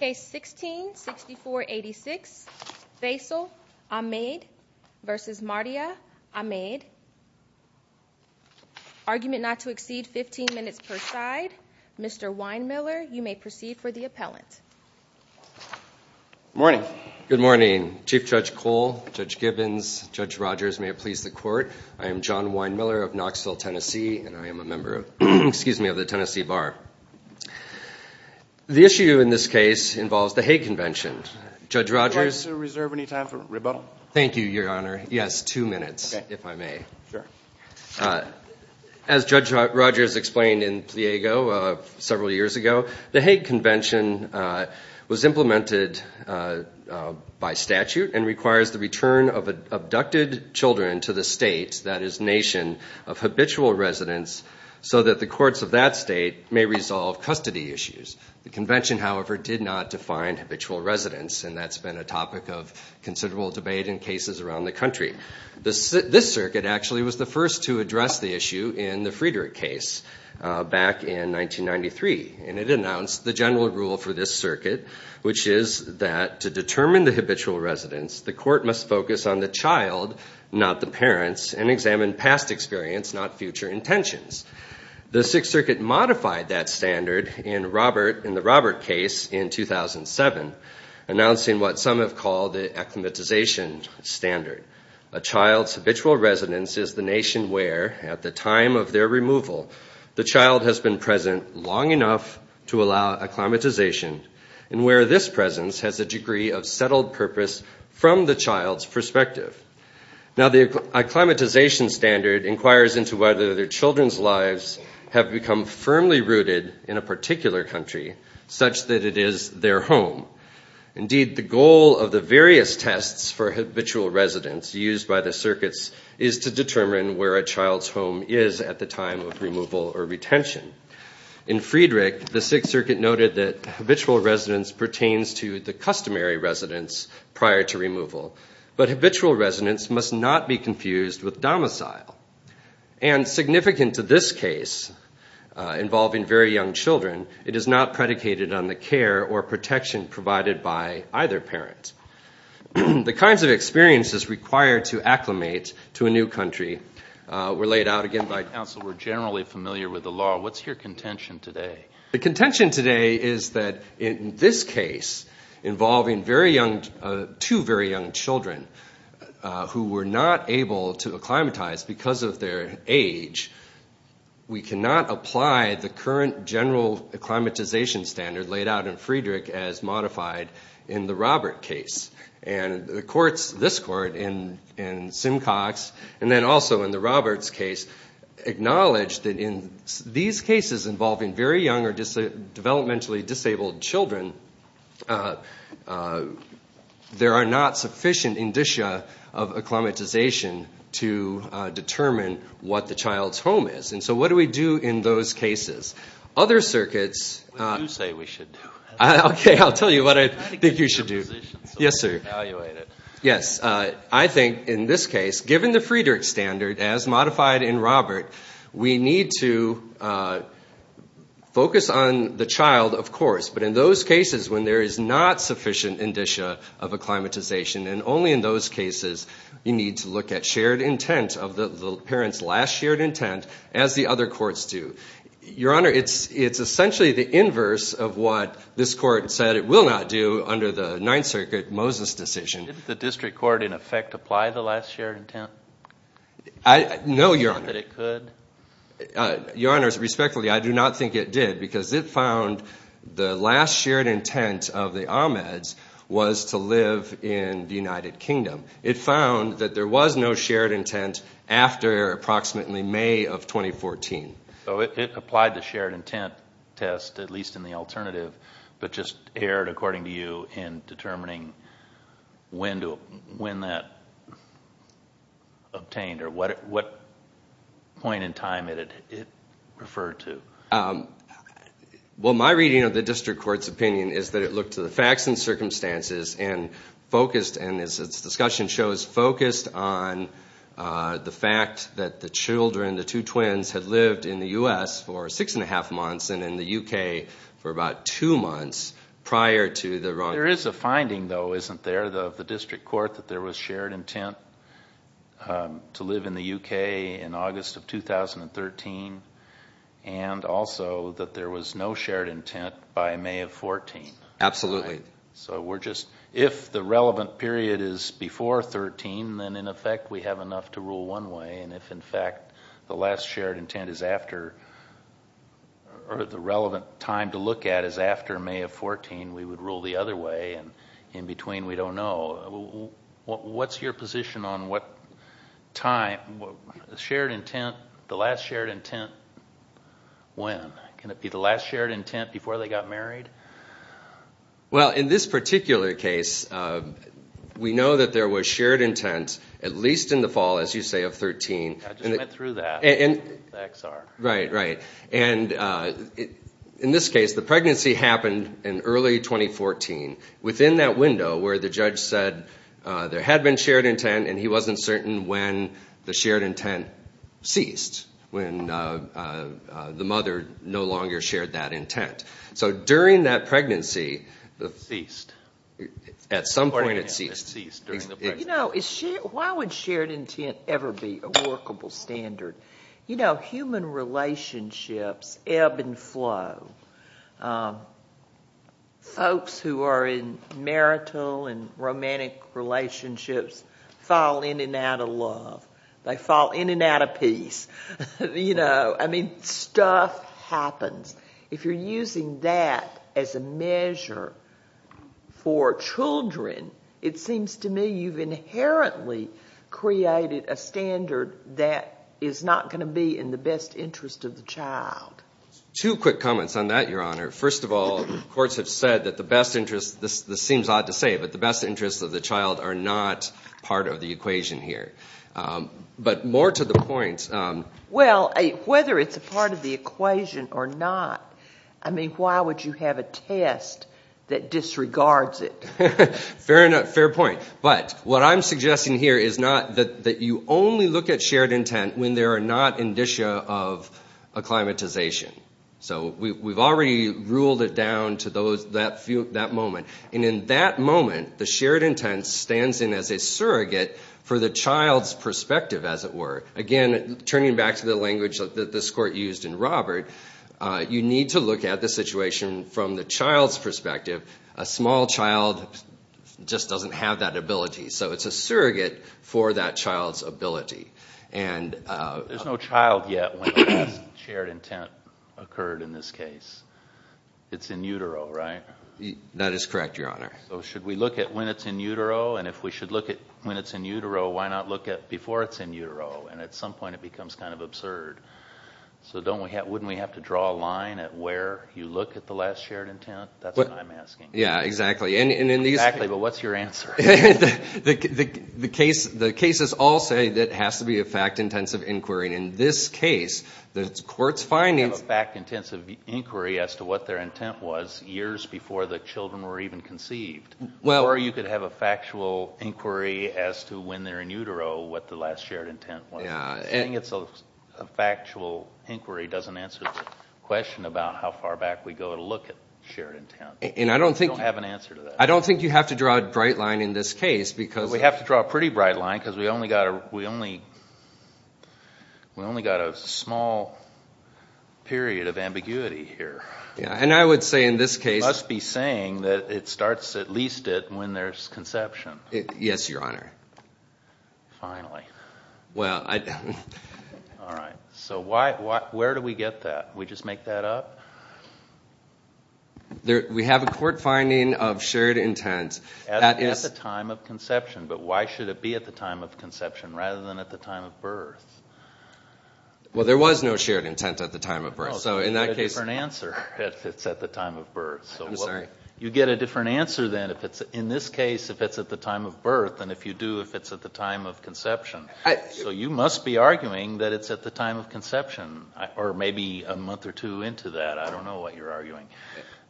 Case 16-6486. Faisal Ahmed v. Mardia Ahmed. Argument not to exceed 15 minutes per side. Mr. Weinmiller, you may proceed for the appellant. Morning. Good morning. Chief Judge Cole, Judge Gibbons, Judge Rogers, may it please the Court. I am John Weinmiller of Knoxville, Tennessee, and I am a member of the Tennessee Bar. The issue in this case involves the Hague Convention. Judge Rogers. Would you like to reserve any time for rebuttal? Thank you, Your Honor. Yes, two minutes, if I may. Sure. As Judge Rogers explained in Pliego several years ago, the Hague Convention was implemented by statute and requires the return of abducted children to the state, that is, nation, of habitual residents so that the courts of that state may resolve custody issues. The convention, however, did not define habitual residents, and that's been a topic of considerable debate in cases around the country. This circuit actually was the first to address the issue in the Friedrich case back in 1993, and it announced the general rule for this circuit, which is that to determine the habitual residents, the court must focus on the child, not the parents, and examine past experience, not future intentions. The Sixth Circuit modified that standard in the Robert case in 2007, announcing what some have called the acclimatization standard. A child's habitual residence is the nation where, at the time of their removal, the child has been present long enough to allow acclimatization, and where this presence has a degree of settled purpose from the child's perspective. Now, the acclimatization standard inquires into whether their children's lives have become firmly rooted in a particular country, such that it is their home. Indeed, the goal of the various tests for habitual residents used by the circuits is to determine where a child's home is at the time of removal or retention. In Friedrich, the Sixth Circuit noted that habitual residence pertains to the customary residence prior to removal, but habitual residence must not be confused with domicile. And significant to this case involving very young children, it is not predicated on the care or protection provided by either parent. The kinds of experiences required to acclimate to a new country were laid out again by counsel. We're generally familiar with the law. What's your contention today? The contention today is that in this case involving two very young children who were not able to acclimatize because of their age, we cannot apply the current general acclimatization standard laid out in Friedrich as modified in the Robert case. This court in Simcox, and then also in the Roberts case, acknowledged that in these cases involving very young or developmentally disabled children, there are not sufficient indicia of acclimatization to determine what the child's home is. And so what do we do in those cases? Other circuits... What do you say we should do? I'll tell you what I think you should do. Yes, sir. Evaluate it. Yes, I think in this case, given the Friedrich standard as modified in Robert, we need to focus on the child, of course, but in those cases when there is not sufficient indicia of acclimatization, and only in those cases you need to look at shared intent of the parent's last shared intent, as the other courts do. Your Honor, it's essentially the inverse of what this court said it will not do under the Ninth Circuit Moses decision. Didn't the district court in effect apply the last shared intent? No, Your Honor. Did it say that it could? Your Honors, respectfully, I do not think it did, because it found the last shared intent of the Ahmeds was to live in the United Kingdom. It found that there was no shared intent after approximately May of 2014. So it applied the shared intent test, at least in the alternative, but just erred, according to you, in determining when that obtained, or what point in time it referred to. Well, my reading of the district court's opinion is that it looked to the facts and circumstances and its discussion shows focused on the fact that the children, the two twins, had lived in the U.S. for six and a half months and in the U.K. for about two months prior to the wrong. There is a finding, though, isn't there, of the district court, that there was shared intent to live in the U.K. in August of 2013, and also that there was no shared intent by May of 2014. Absolutely. So we're just, if the relevant period is before 13, then in effect we have enough to rule one way, and if in fact the last shared intent is after, or the relevant time to look at is after May of 14, we would rule the other way, and in between we don't know. What's your position on what time, shared intent, the last shared intent, when? Can it be the last shared intent before they got married? Well, in this particular case, we know that there was shared intent at least in the fall, as you say, of 13. I just went through that with the XR. Right, right. And in this case, the pregnancy happened in early 2014 within that window where the judge said there had been shared intent and he wasn't certain when the shared intent ceased, when the mother no longer shared that intent. So during that pregnancy, at some point it ceased. You know, why would shared intent ever be a workable standard? You know, human relationships ebb and flow. Folks who are in marital and romantic relationships fall in and out of love. They fall in and out of peace. You know, I mean, stuff happens. If you're using that as a measure for children, it seems to me you've inherently created a standard that is not going to be in the best interest of the child. Two quick comments on that, Your Honor. First of all, courts have said that the best interest, this seems odd to say, but the best interests of the child are not part of the equation here. But more to the point. Well, whether it's a part of the equation or not, I mean, why would you have a test that disregards it? Fair point. But what I'm suggesting here is not that you only look at shared intent when there are not indicia of acclimatization. So we've already ruled it down to that moment. And in that moment, the shared intent stands in as a surrogate for the child's perspective, as it were. Again, turning back to the language that this Court used in Robert, you need to look at the situation from the child's perspective. A small child just doesn't have that ability. So it's a surrogate for that child's ability. There's no child yet when a shared intent occurred in this case. It's in utero, right? That is correct, Your Honor. So should we look at when it's in utero? And if we should look at when it's in utero, why not look at before it's in utero? And at some point it becomes kind of absurd. So wouldn't we have to draw a line at where you look at the last shared intent? That's what I'm asking. Yeah, exactly. Exactly, but what's your answer? The cases all say that it has to be a fact-intensive inquiry. And in this case, the Court's findings... You have a fact-intensive inquiry as to what their intent was years before the children were even conceived. Or you could have a factual inquiry as to when they're in utero, what the last shared intent was. Saying it's a factual inquiry doesn't answer the question about how far back we go to look at shared intent. You don't have an answer to that. I don't think you have to draw a bright line in this case because... We have to draw a pretty bright line because we only got a small period of ambiguity here. Yeah, and I would say in this case... Yes, Your Honor. Finally. Well, I... All right. So where do we get that? We just make that up? We have a court finding of shared intent. At the time of conception, but why should it be at the time of conception rather than at the time of birth? Well, there was no shared intent at the time of birth. So in that case... You get a different answer if it's at the time of birth. I'm sorry? You get a different answer then if it's, in this case, if it's at the time of birth than if you do if it's at the time of conception. So you must be arguing that it's at the time of conception or maybe a month or two into that. I don't know what you're arguing.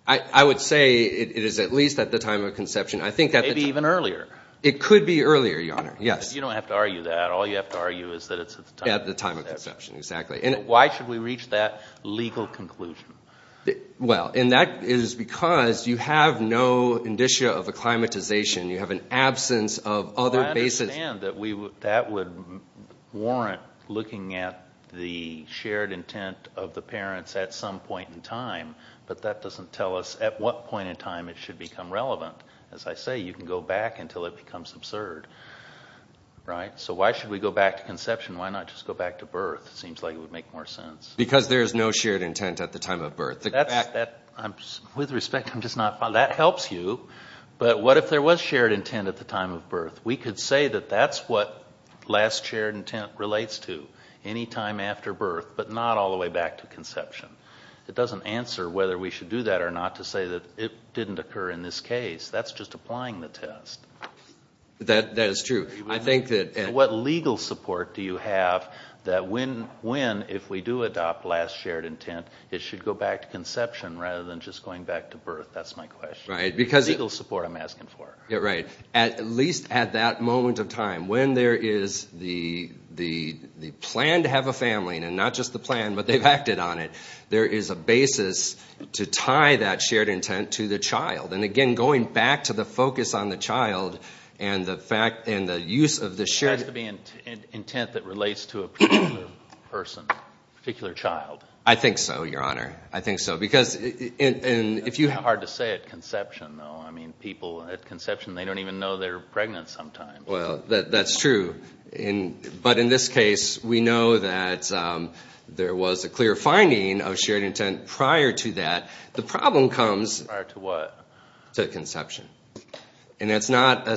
I would say it is at least at the time of conception. Maybe even earlier. It could be earlier, Your Honor, yes. You don't have to argue that. All you have to argue is that it's at the time of conception. At the time of conception, exactly. Why should we reach that legal conclusion? Well, and that is because you have no indicia of acclimatization. You have an absence of other basis. I understand that that would warrant looking at the shared intent of the parents at some point in time, but that doesn't tell us at what point in time it should become relevant. As I say, you can go back until it becomes absurd, right? So why should we go back to conception? Why not just go back to birth? It seems like it would make more sense. Because there is no shared intent at the time of birth. With respect, I'm just not following. That helps you, but what if there was shared intent at the time of birth? We could say that that's what last shared intent relates to, any time after birth, but not all the way back to conception. It doesn't answer whether we should do that or not to say that it didn't occur in this case. That's just applying the test. That is true. What legal support do you have that when, if we do adopt last shared intent, it should go back to conception rather than just going back to birth? That's my question. The legal support I'm asking for. At least at that moment of time, when there is the plan to have a family, and not just the plan, but they've acted on it, there is a basis to tie that shared intent to the child. Again, going back to the focus on the child and the use of the shared intent. It has to be intent that relates to a particular person, a particular child. I think so, Your Honor. I think so. It's hard to say at conception, though. People at conception, they don't even know they're pregnant sometimes. That's true. But in this case, we know that there was a clear finding of shared intent prior to that. The problem comes prior to what? To conception. It's not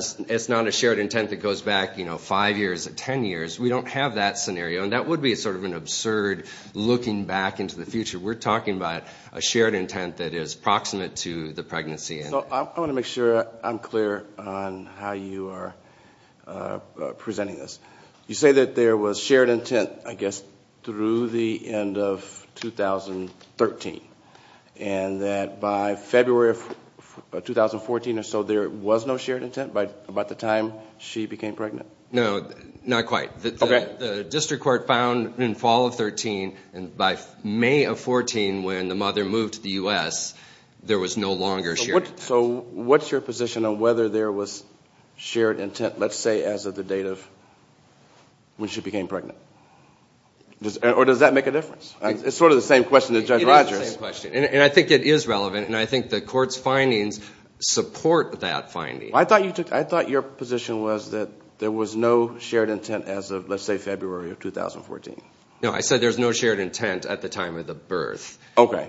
a shared intent that goes back five years or ten years. We don't have that scenario. That would be sort of an absurd looking back into the future. We're talking about a shared intent that is proximate to the pregnancy. I want to make sure I'm clear on how you are presenting this. You say that there was shared intent, I guess, through the end of 2013, and that by February of 2014 or so there was no shared intent by the time she became pregnant? No, not quite. The district court found in fall of 2013, and by May of 2014 when the mother moved to the U.S., there was no longer shared intent. So what's your position on whether there was shared intent, let's say, as of the date of when she became pregnant? Or does that make a difference? It's sort of the same question as Judge Rogers. It is the same question, and I think it is relevant, and I think the court's findings support that finding. I thought your position was that there was no shared intent as of, let's say, February of 2014. No, I said there was no shared intent at the time of the birth. Okay,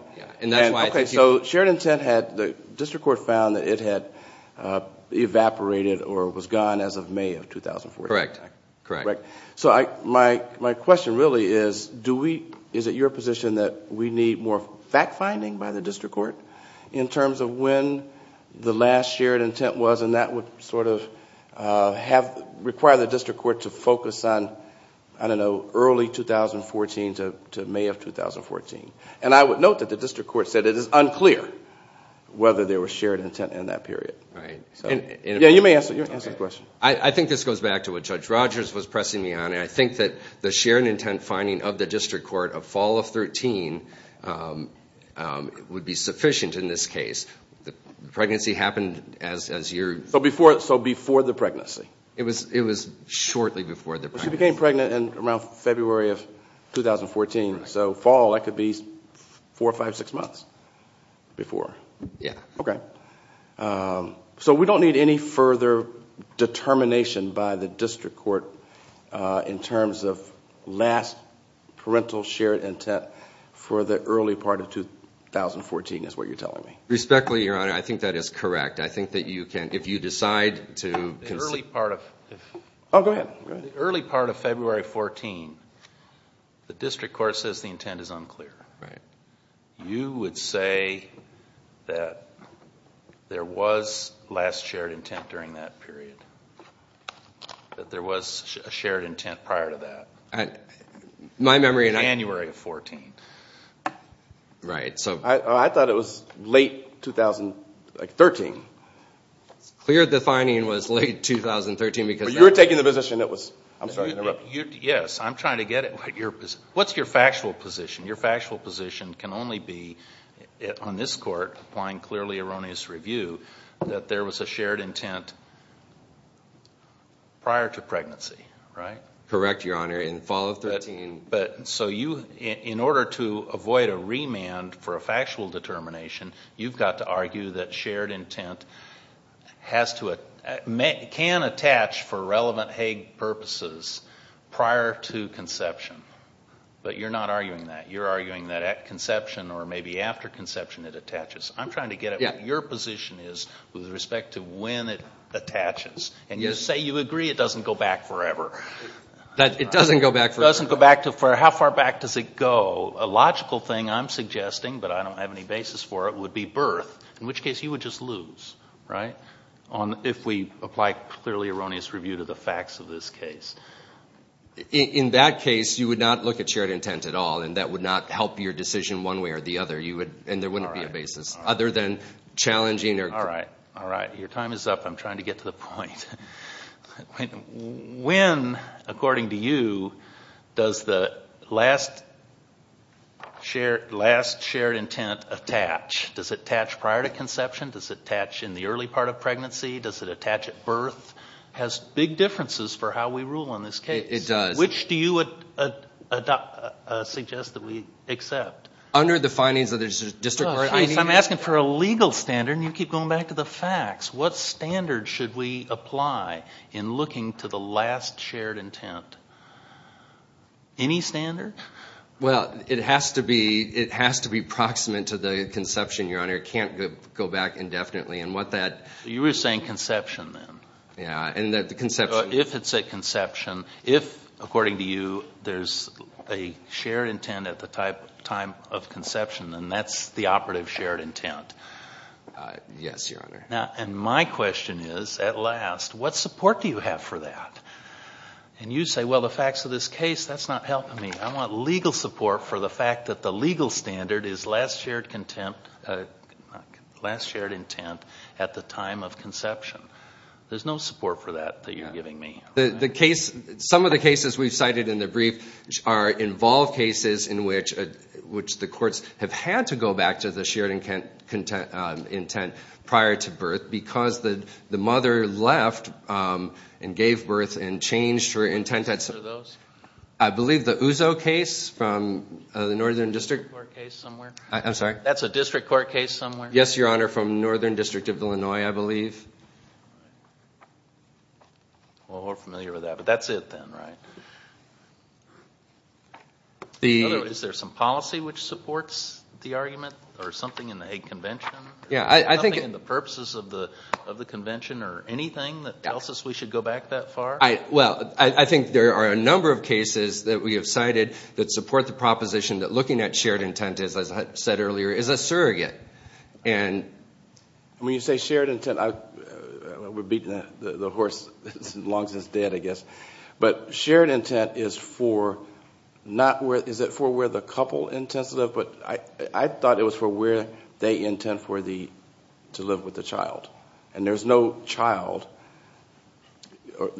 so shared intent, the district court found that it had evaporated or was gone as of May of 2014. Correct. So my question really is, is it your position that we need more fact-finding by the district court in terms of when the last shared intent was, and that would sort of require the district court to focus on, I don't know, early 2014 to May of 2014. And I would note that the district court said it is unclear whether there was shared intent in that period. Right. Yeah, you may answer the question. I think this goes back to what Judge Rogers was pressing me on, and I think that the shared intent finding of the district court of fall of 2013 would be sufficient in this case. The pregnancy happened as your... So before the pregnancy. It was shortly before the pregnancy. She became pregnant around February of 2014, so fall, that could be four, five, six months before. Yeah. Okay. So we don't need any further determination by the district court in terms of last parental shared intent for the early part of 2014 is what you're telling me. Respectfully, Your Honor, I think that is correct. I think that you can, if you decide to... The early part of... Oh, go ahead. The early part of February of 2014, the district court says the intent is unclear. Right. You would say that there was last shared intent during that period, that there was a shared intent prior to that. My memory... In January of 2014. Right. I thought it was late 2013. It's clear the finding was late 2013 because... But you were taking the position that was... I'm sorry to interrupt. Yes, I'm trying to get at what your position... What's your factual position? Your factual position can only be, on this court, applying clearly erroneous review, that there was a shared intent prior to pregnancy, right? Correct, Your Honor. In fall of 2013... In order to avoid a remand for a factual determination, you've got to argue that shared intent can attach for relevant Hague purposes prior to conception. But you're not arguing that. You're arguing that at conception or maybe after conception it attaches. I'm trying to get at what your position is with respect to when it attaches. And you say you agree it doesn't go back forever. It doesn't go back forever. How far back does it go? A logical thing, I'm suggesting, but I don't have any basis for it, would be birth, in which case you would just lose, right, if we apply clearly erroneous review to the facts of this case. In that case, you would not look at shared intent at all, and that would not help your decision one way or the other, and there wouldn't be a basis other than challenging... All right, all right. Your time is up. I'm trying to get to the point. When, according to you, does the last shared intent attach? Does it attach prior to conception? Does it attach in the early part of pregnancy? Does it attach at birth? It has big differences for how we rule on this case. It does. Which do you suggest that we accept? Under the findings of the district court. I'm asking for a legal standard, and you keep going back to the facts. What standard should we apply in looking to the last shared intent? Any standard? Well, it has to be proximate to the conception, Your Honor. It can't go back indefinitely, and what that... You were saying conception, then. Yeah, and that the conception... If it's at conception, if, according to you, there's a shared intent at the time of conception, then that's the operative shared intent. Yes, Your Honor. And my question is, at last, what support do you have for that? And you say, well, the facts of this case, that's not helping me. I want legal support for the fact that the legal standard is last shared intent at the time of conception. There's no support for that that you're giving me. Some of the cases we've cited in the brief involve cases in which the courts have had to go back to the shared intent prior to birth because the mother left and gave birth and changed her intent at some point. Who are those? I believe the Uzo case from the Northern District. That's a district court case somewhere. I'm sorry? That's a district court case somewhere. Yes, Your Honor, from Northern District of Illinois, I believe. Well, we're familiar with that, but that's it then, right? In other words, is there some policy which supports the argument or something in the egg convention? Yeah, I think. Something in the purposes of the convention or anything that tells us we should go back that far? Well, I think there are a number of cases that we have cited that support the proposition that looking at shared intent, as I said earlier, is a surrogate. And when you say shared intent, we're beating the horse as long as it's dead, I guess. But shared intent is for where the couple intends to live, but I thought it was for where they intend to live with the child. And there's no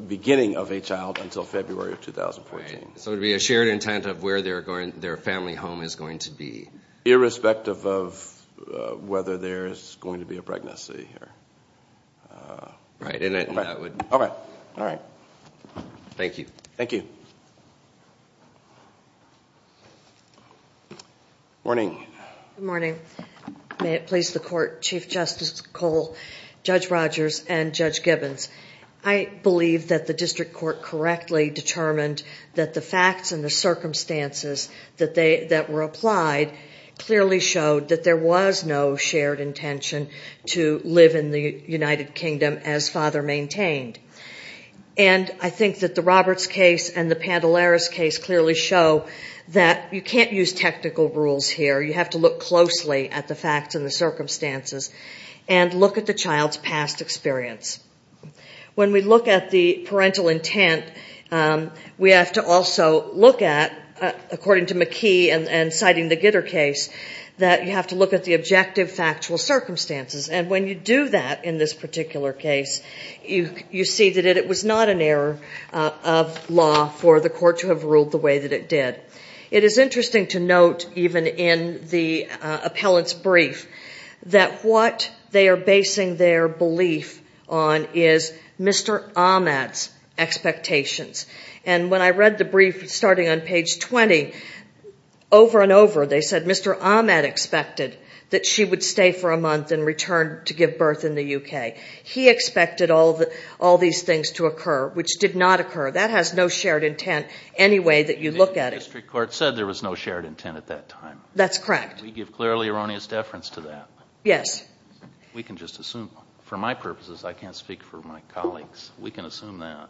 beginning of a child until February of 2014. So it would be a shared intent of where their family home is going to be. Irrespective of whether there's going to be a pregnancy. Right. All right. Thank you. Thank you. Morning. Good morning. May it please the Court. Chief Justice Cole, Judge Rogers, and Judge Gibbons, I believe that the district court correctly determined that the facts and the circumstances that were applied clearly showed that there was no shared intention to live in the United Kingdom as father maintained. And I think that the Roberts case and the Pandelaris case clearly show that you can't use technical rules here. You have to look closely at the facts and the circumstances and look at the child's past experience. When we look at the parental intent, we have to also look at, according to McKee and citing the Gitter case, that you have to look at the objective factual circumstances. And when you do that in this particular case, you see that it was not an error of law for the court to have ruled the way that it did. It is interesting to note, even in the appellant's brief, that what they are basing their belief on is Mr. Ahmad's expectations. And when I read the brief starting on page 20, over and over they said Mr. Ahmad expected that she would stay for a month and return to give birth in the U.K. He expected all these things to occur, which did not occur. That has no shared intent anyway that you look at it. The district court said there was no shared intent at that time. That's correct. We give clearly erroneous deference to that. Yes. We can just assume. For my purposes, I can't speak for my colleagues. We can assume that.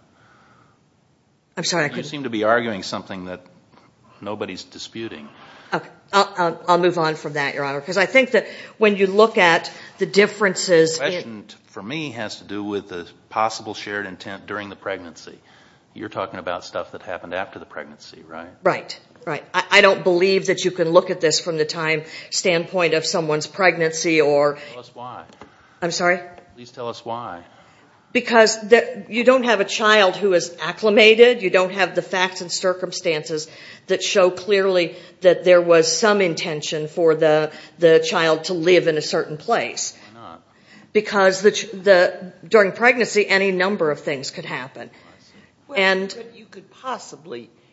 I'm sorry. You seem to be arguing something that nobody's disputing. Okay. I'll move on from that, Your Honor, because I think that when you look at the differences in has to do with the possible shared intent during the pregnancy. You're talking about stuff that happened after the pregnancy, right? Right. I don't believe that you can look at this from the time standpoint of someone's pregnancy. Tell us why. I'm sorry? Please tell us why. Because you don't have a child who is acclimated. You don't have the facts and circumstances that show clearly that there was some intention for the child to live in a certain place. Why not? Because during pregnancy, any number of things could happen.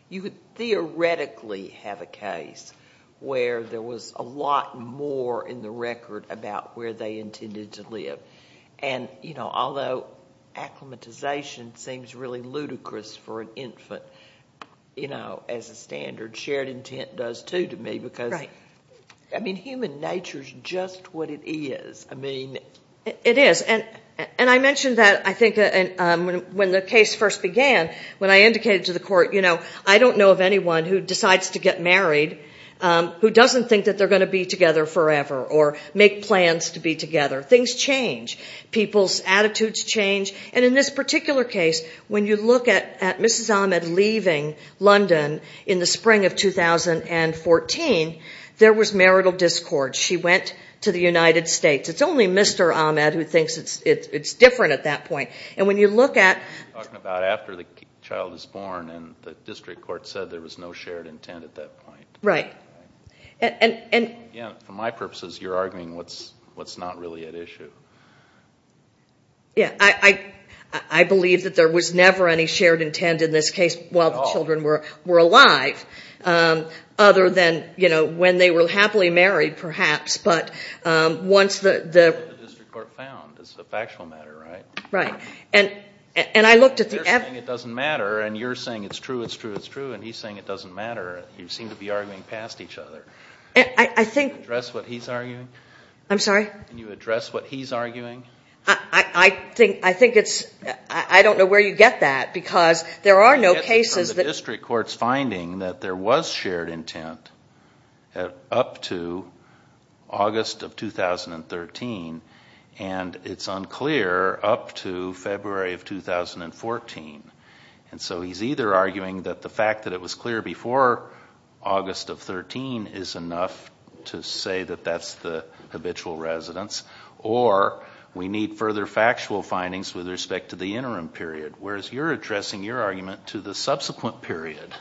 You could theoretically have a case where there was a lot more in the record about where they intended to live. Although acclimatization seems really ludicrous for an infant as a standard, shared intent does too to me because human nature is just what it is. It is. And I mentioned that I think when the case first began, when I indicated to the court, I don't know of anyone who decides to get married who doesn't think that they're going to be together forever or make plans to be together. Things change. People's attitudes change. And in this particular case, when you look at Mrs. Ahmed leaving London in the spring of 2014, there was marital discord. She went to the United States. It's only Mr. Ahmed who thinks it's different at that point. And when you look at- You're talking about after the child is born and the district court said there was no shared intent at that point. Right. And- Again, for my purposes, you're arguing what's not really at issue. Yeah. I believe that there was never any shared intent in this case while the children were alive, other than when they were happily married, perhaps. But once the- The district court found. It's a factual matter, right? Right. And I looked at the- You're saying it doesn't matter, and you're saying it's true, it's true, it's true, and he's saying it doesn't matter. You seem to be arguing past each other. I think- Can you address what he's arguing? I'm sorry? Can you address what he's arguing? I think it's- I don't know where you get that because there are no cases that- And it's unclear up to February of 2014. And so he's either arguing that the fact that it was clear before August of 2013 is enough to say that that's the habitual residence, or we need further factual findings with respect to the interim period, whereas you're addressing your argument to the subsequent period,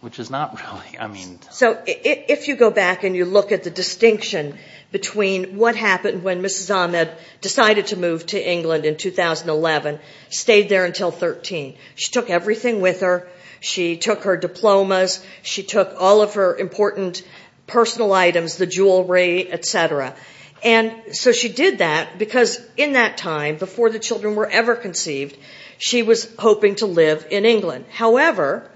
which is not really- So if you go back and you look at the distinction between what happened when Mrs. Ahmed decided to move to England in 2011, stayed there until 13. She took everything with her. She took her diplomas. She took all of her important personal items, the jewelry, et cetera. And so she did that because in that time, before the children were ever conceived, she was hoping to live in England. However,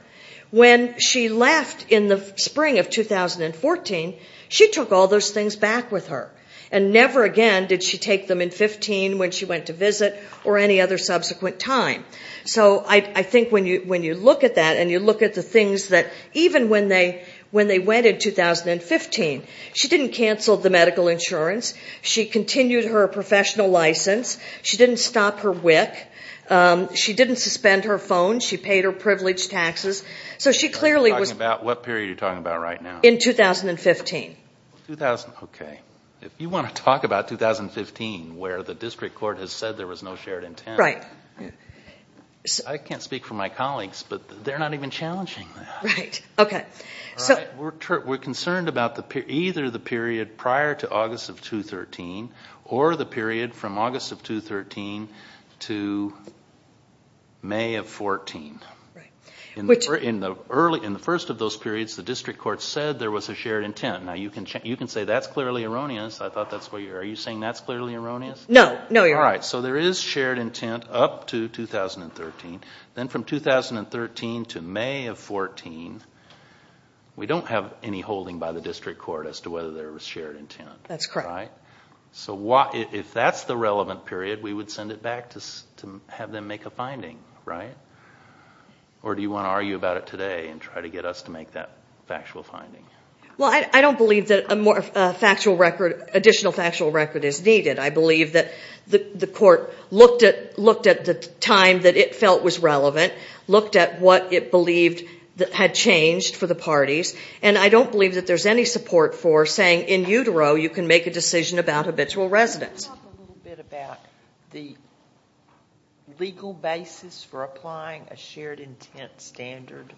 when she left in the spring of 2014, she took all those things back with her, and never again did she take them in 15 when she went to visit or any other subsequent time. So I think when you look at that and you look at the things that- Even when they went in 2015, she didn't cancel the medical insurance. She continued her professional license. She didn't stop her WIC. She didn't suspend her phone. She paid her privilege taxes. So she clearly was- You're talking about what period you're talking about right now? In 2015. Okay. If you want to talk about 2015, where the district court has said there was no shared intent- Right. I can't speak for my colleagues, but they're not even challenging that. Right. Okay. We're concerned about either the period prior to August of 2013 or the period from August of 2013 to May of 2014. Right. In the first of those periods, the district court said there was a shared intent. Now, you can say that's clearly erroneous. I thought that's what you were- Are you saying that's clearly erroneous? No. No, you're right. All right. So there is shared intent up to 2013. Then from 2013 to May of 2014, we don't have any holding by the district court as to whether there was shared intent. That's correct. Right? So if that's the relevant period, we would send it back to have them make a finding, right? Or do you want to argue about it today and try to get us to make that factual finding? Well, I don't believe that additional factual record is needed. I believe that the court looked at the time that it felt was relevant, looked at what it believed had changed for the parties, and I don't believe that there's any support for saying in utero you can make a decision about habitual residence. Can you talk a little bit about the legal basis for applying a shared intent standard?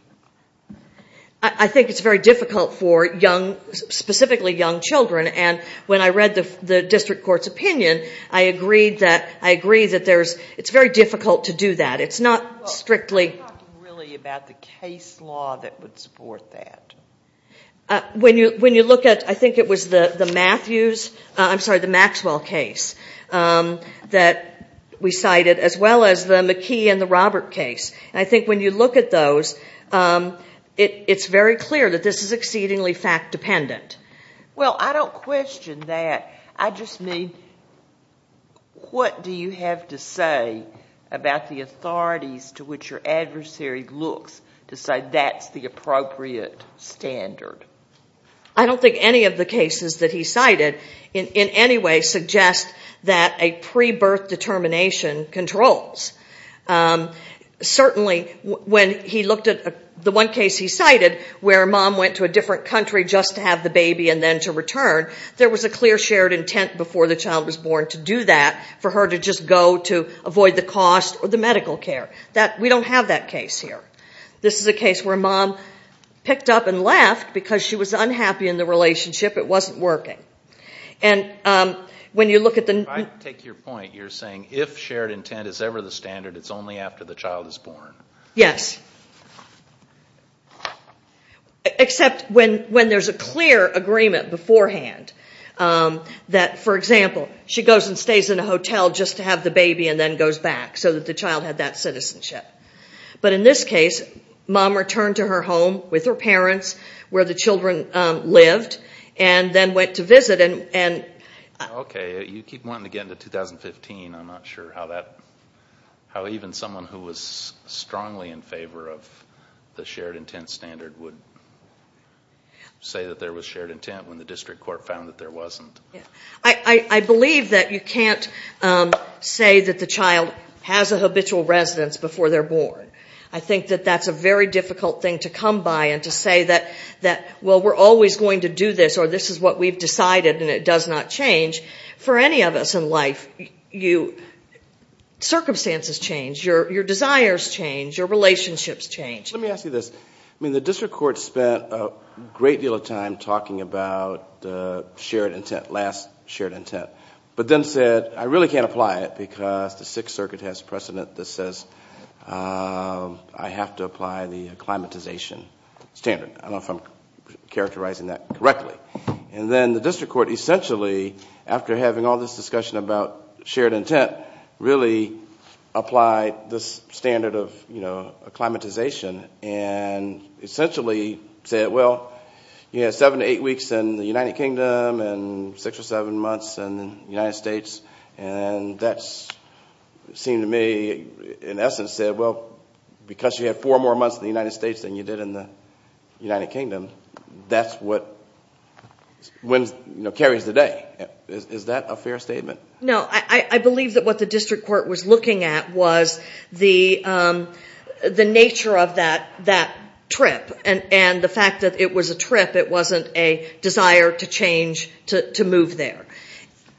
I think it's very difficult for young, specifically young children. And when I read the district court's opinion, I agreed that it's very difficult to do that. It's not strictly- Well, are you talking really about the case law that would support that? When you look at, I think it was the Matthews, I'm sorry, the Maxwell case that we cited, as well as the McKee and the Robert case. I think when you look at those, it's very clear that this is exceedingly fact-dependent. Well, I don't question that. I just mean what do you have to say about the authorities to which your adversary looks to say that's the appropriate standard? I don't think any of the cases that he cited in any way suggest that a pre-birth determination controls. Certainly, when he looked at the one case he cited where a mom went to a different country just to have the baby and then to return, there was a clear shared intent before the child was born to do that, for her to just go to avoid the cost or the medical care. We don't have that case here. This is a case where a mom picked up and left because she was unhappy in the relationship. It wasn't working. If I take your point, you're saying if shared intent is ever the standard, it's only after the child is born. Yes, except when there's a clear agreement beforehand that, for example, she goes and stays in a hotel just to have the baby and then goes back so that the child had that citizenship. But in this case, mom returned to her home with her parents where the children lived and then went to visit. Okay, you keep wanting to get into 2015. I'm not sure how even someone who was strongly in favor of the shared intent standard would say that there was shared intent when the district court found that there wasn't. I believe that you can't say that the child has a habitual residence before they're born. I think that that's a very difficult thing to come by and to say that, well, we're always going to do this or this is what we've decided and it does not change. For any of us in life, circumstances change, your desires change, your relationships change. Let me ask you this. I mean, the district court spent a great deal of time talking about shared intent, last shared intent, but then said I really can't apply it because the Sixth Circuit has precedent that says I have to apply the acclimatization standard. I don't know if I'm characterizing that correctly. And then the district court essentially, after having all this discussion about shared intent, really applied this standard of acclimatization and essentially said, well, you had seven to eight weeks in the United Kingdom and six or seven months in the United States. And that seemed to me, in essence, said, well, because you had four more months in the United States than you did in the United Kingdom, that's what carries the day. Is that a fair statement? No. I believe that what the district court was looking at was the nature of that trip and the fact that it was a trip, it wasn't a desire to change, to move there.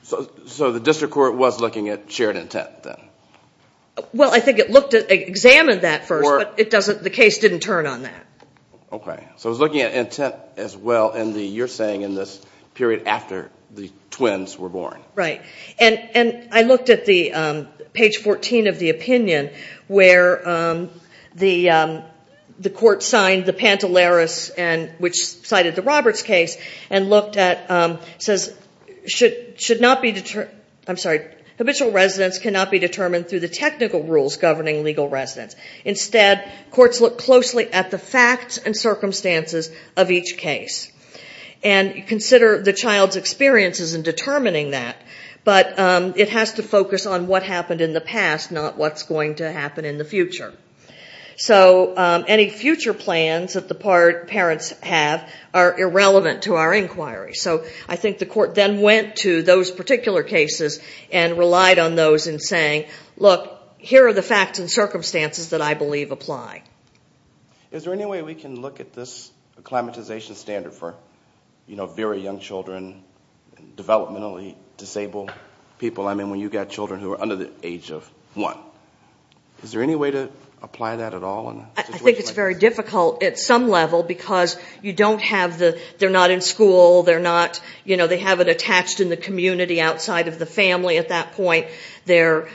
So the district court was looking at shared intent then? Well, I think it examined that first, but the case didn't turn on that. Okay. So it was looking at intent as well in the, you're saying, in this period after the twins were born. Right. And I looked at the page 14 of the opinion where the court signed the Pantelaris, which cited the Roberts case, and looked at, says, should not be, I'm sorry, habitual residence cannot be determined through the technical rules governing legal residence. Instead, courts look closely at the facts and circumstances of each case and consider the child's experiences in determining that. But it has to focus on what happened in the past, not what's going to happen in the future. So any future plans that the parents have are irrelevant to our inquiry. So I think the court then went to those particular cases and relied on those in saying, look, here are the facts and circumstances that I believe apply. Is there any way we can look at this acclimatization standard for, you know, very young children, developmentally disabled people? I mean, when you've got children who are under the age of one. Is there any way to apply that at all? I think it's very difficult at some level because you don't have the, they're not in school, they're not, you know, they have it attached in the community outside of the family at that point. They're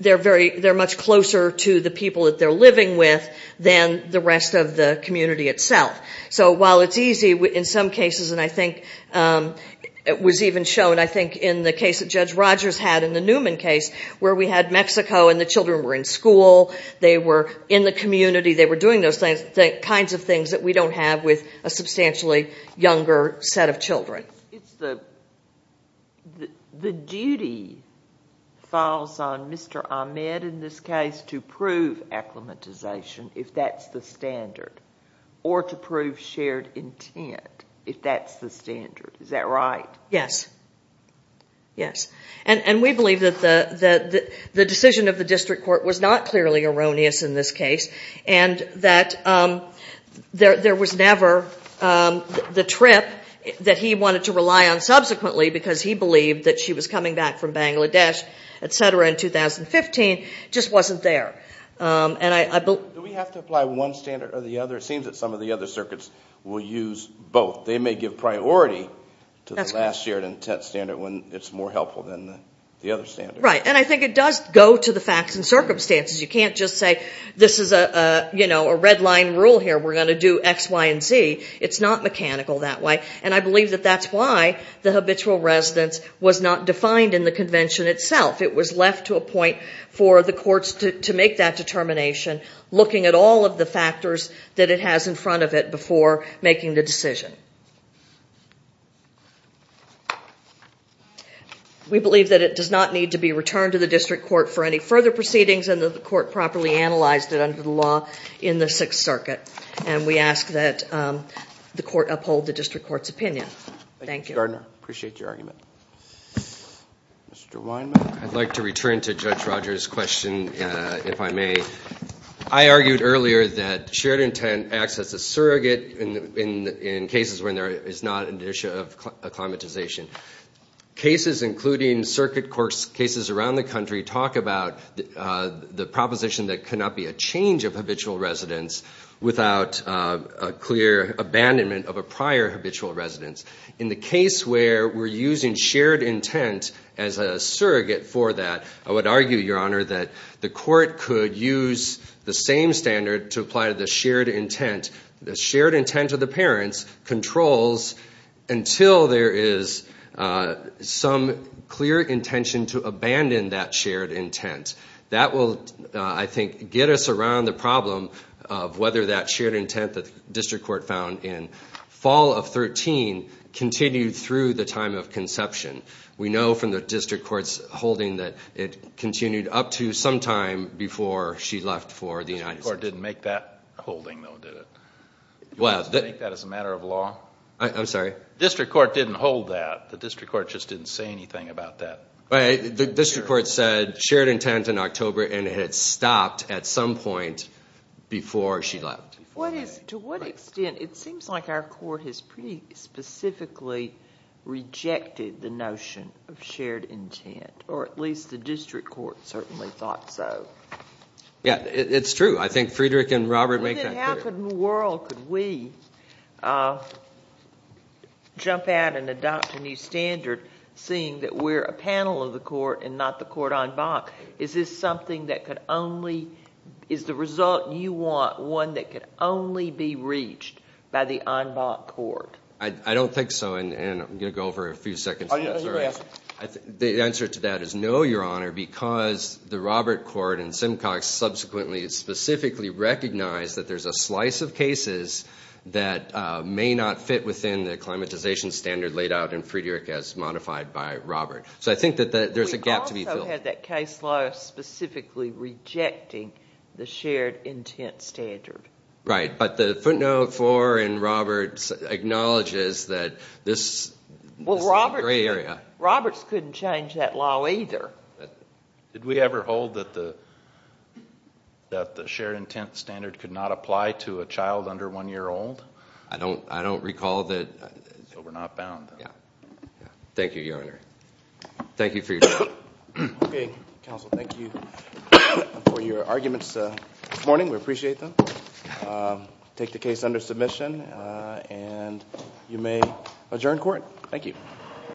very, they're much closer to the people that they're living with than the rest of the community itself. So while it's easy in some cases, and I think it was even shown, I think in the case that Judge Rogers had in the Newman case where we had Mexico and the children were in school, they were in the community, they were doing those things, the kinds of things that we don't have with a substantially younger set of children. But it's the duty falls on Mr. Ahmed in this case to prove acclimatization if that's the standard or to prove shared intent if that's the standard. Is that right? Yes. Yes. And we believe that the decision of the district court was not clearly erroneous in this case and that there was never the trip that he wanted to rely on subsequently because he believed that she was coming back from Bangladesh, et cetera, in 2015, just wasn't there. Do we have to apply one standard or the other? It seems that some of the other circuits will use both. They may give priority to the last shared intent standard when it's more helpful than the other standard. Right. And I think it does go to the facts and circumstances. You can't just say this is a red line rule here. We're going to do X, Y, and Z. It's not mechanical that way. And I believe that that's why the habitual residence was not defined in the convention itself. It was left to a point for the courts to make that determination, looking at all of the factors that it has in front of it before making the decision. We believe that it does not need to be returned to the district court for any further proceedings and that the court properly analyzed it under the law in the Sixth Circuit. And we ask that the court uphold the district court's opinion. Thank you, Ms. Gardner. Appreciate your argument. Mr. Weinman. I'd like to return to Judge Rogers' question, if I may. I argued earlier that shared intent acts as a surrogate in cases when there is not an issue of acclimatization. Cases, including circuit cases around the country, talk about the proposition that there cannot be a change of habitual residence without a clear abandonment of a prior habitual residence. In the case where we're using shared intent as a surrogate for that, I would argue, Your Honor, that the court could use the same standard to apply to the shared intent. The shared intent of the parents controls until there is some clear intention to abandon that shared intent. That will, I think, get us around the problem of whether that shared intent that the district court found in fall of 2013 continued through the time of conception. We know from the district court's holding that it continued up to some time before she left for the United States. The district court didn't make that holding, though, did it? You think that is a matter of law? I'm sorry? The district court didn't hold that. The district court just didn't say anything about that. The district court said shared intent in October, and it had stopped at some point before she left. To what extent? It seems like our court has pretty specifically rejected the notion of shared intent, or at least the district court certainly thought so. Yeah, it's true. I think Friedrich and Robert make that clear. How in the world could we jump out and adopt a new standard, seeing that we're a panel of the court and not the court en bas? Is this something that could only be the result you want, one that could only be reached by the en bas court? I don't think so, and I'm going to go over a few seconds. The answer to that is no, Your Honor, because the Robert court and Simcox subsequently specifically recognized that there's a slice of cases that may not fit within the acclimatization standard laid out in Friedrich as modified by Robert. So I think that there's a gap to be filled. We also had that case law specifically rejecting the shared intent standard. Right, but the footnote for and Robert's acknowledges that this is the gray area. Robert's couldn't change that law either. Did we ever hold that the shared intent standard could not apply to a child under one year old? I don't recall that. So we're not bound. Thank you, Your Honor. Thank you for your time. Okay, counsel, thank you for your arguments this morning. We appreciate them. Take the case under submission, and you may adjourn court. Thank you.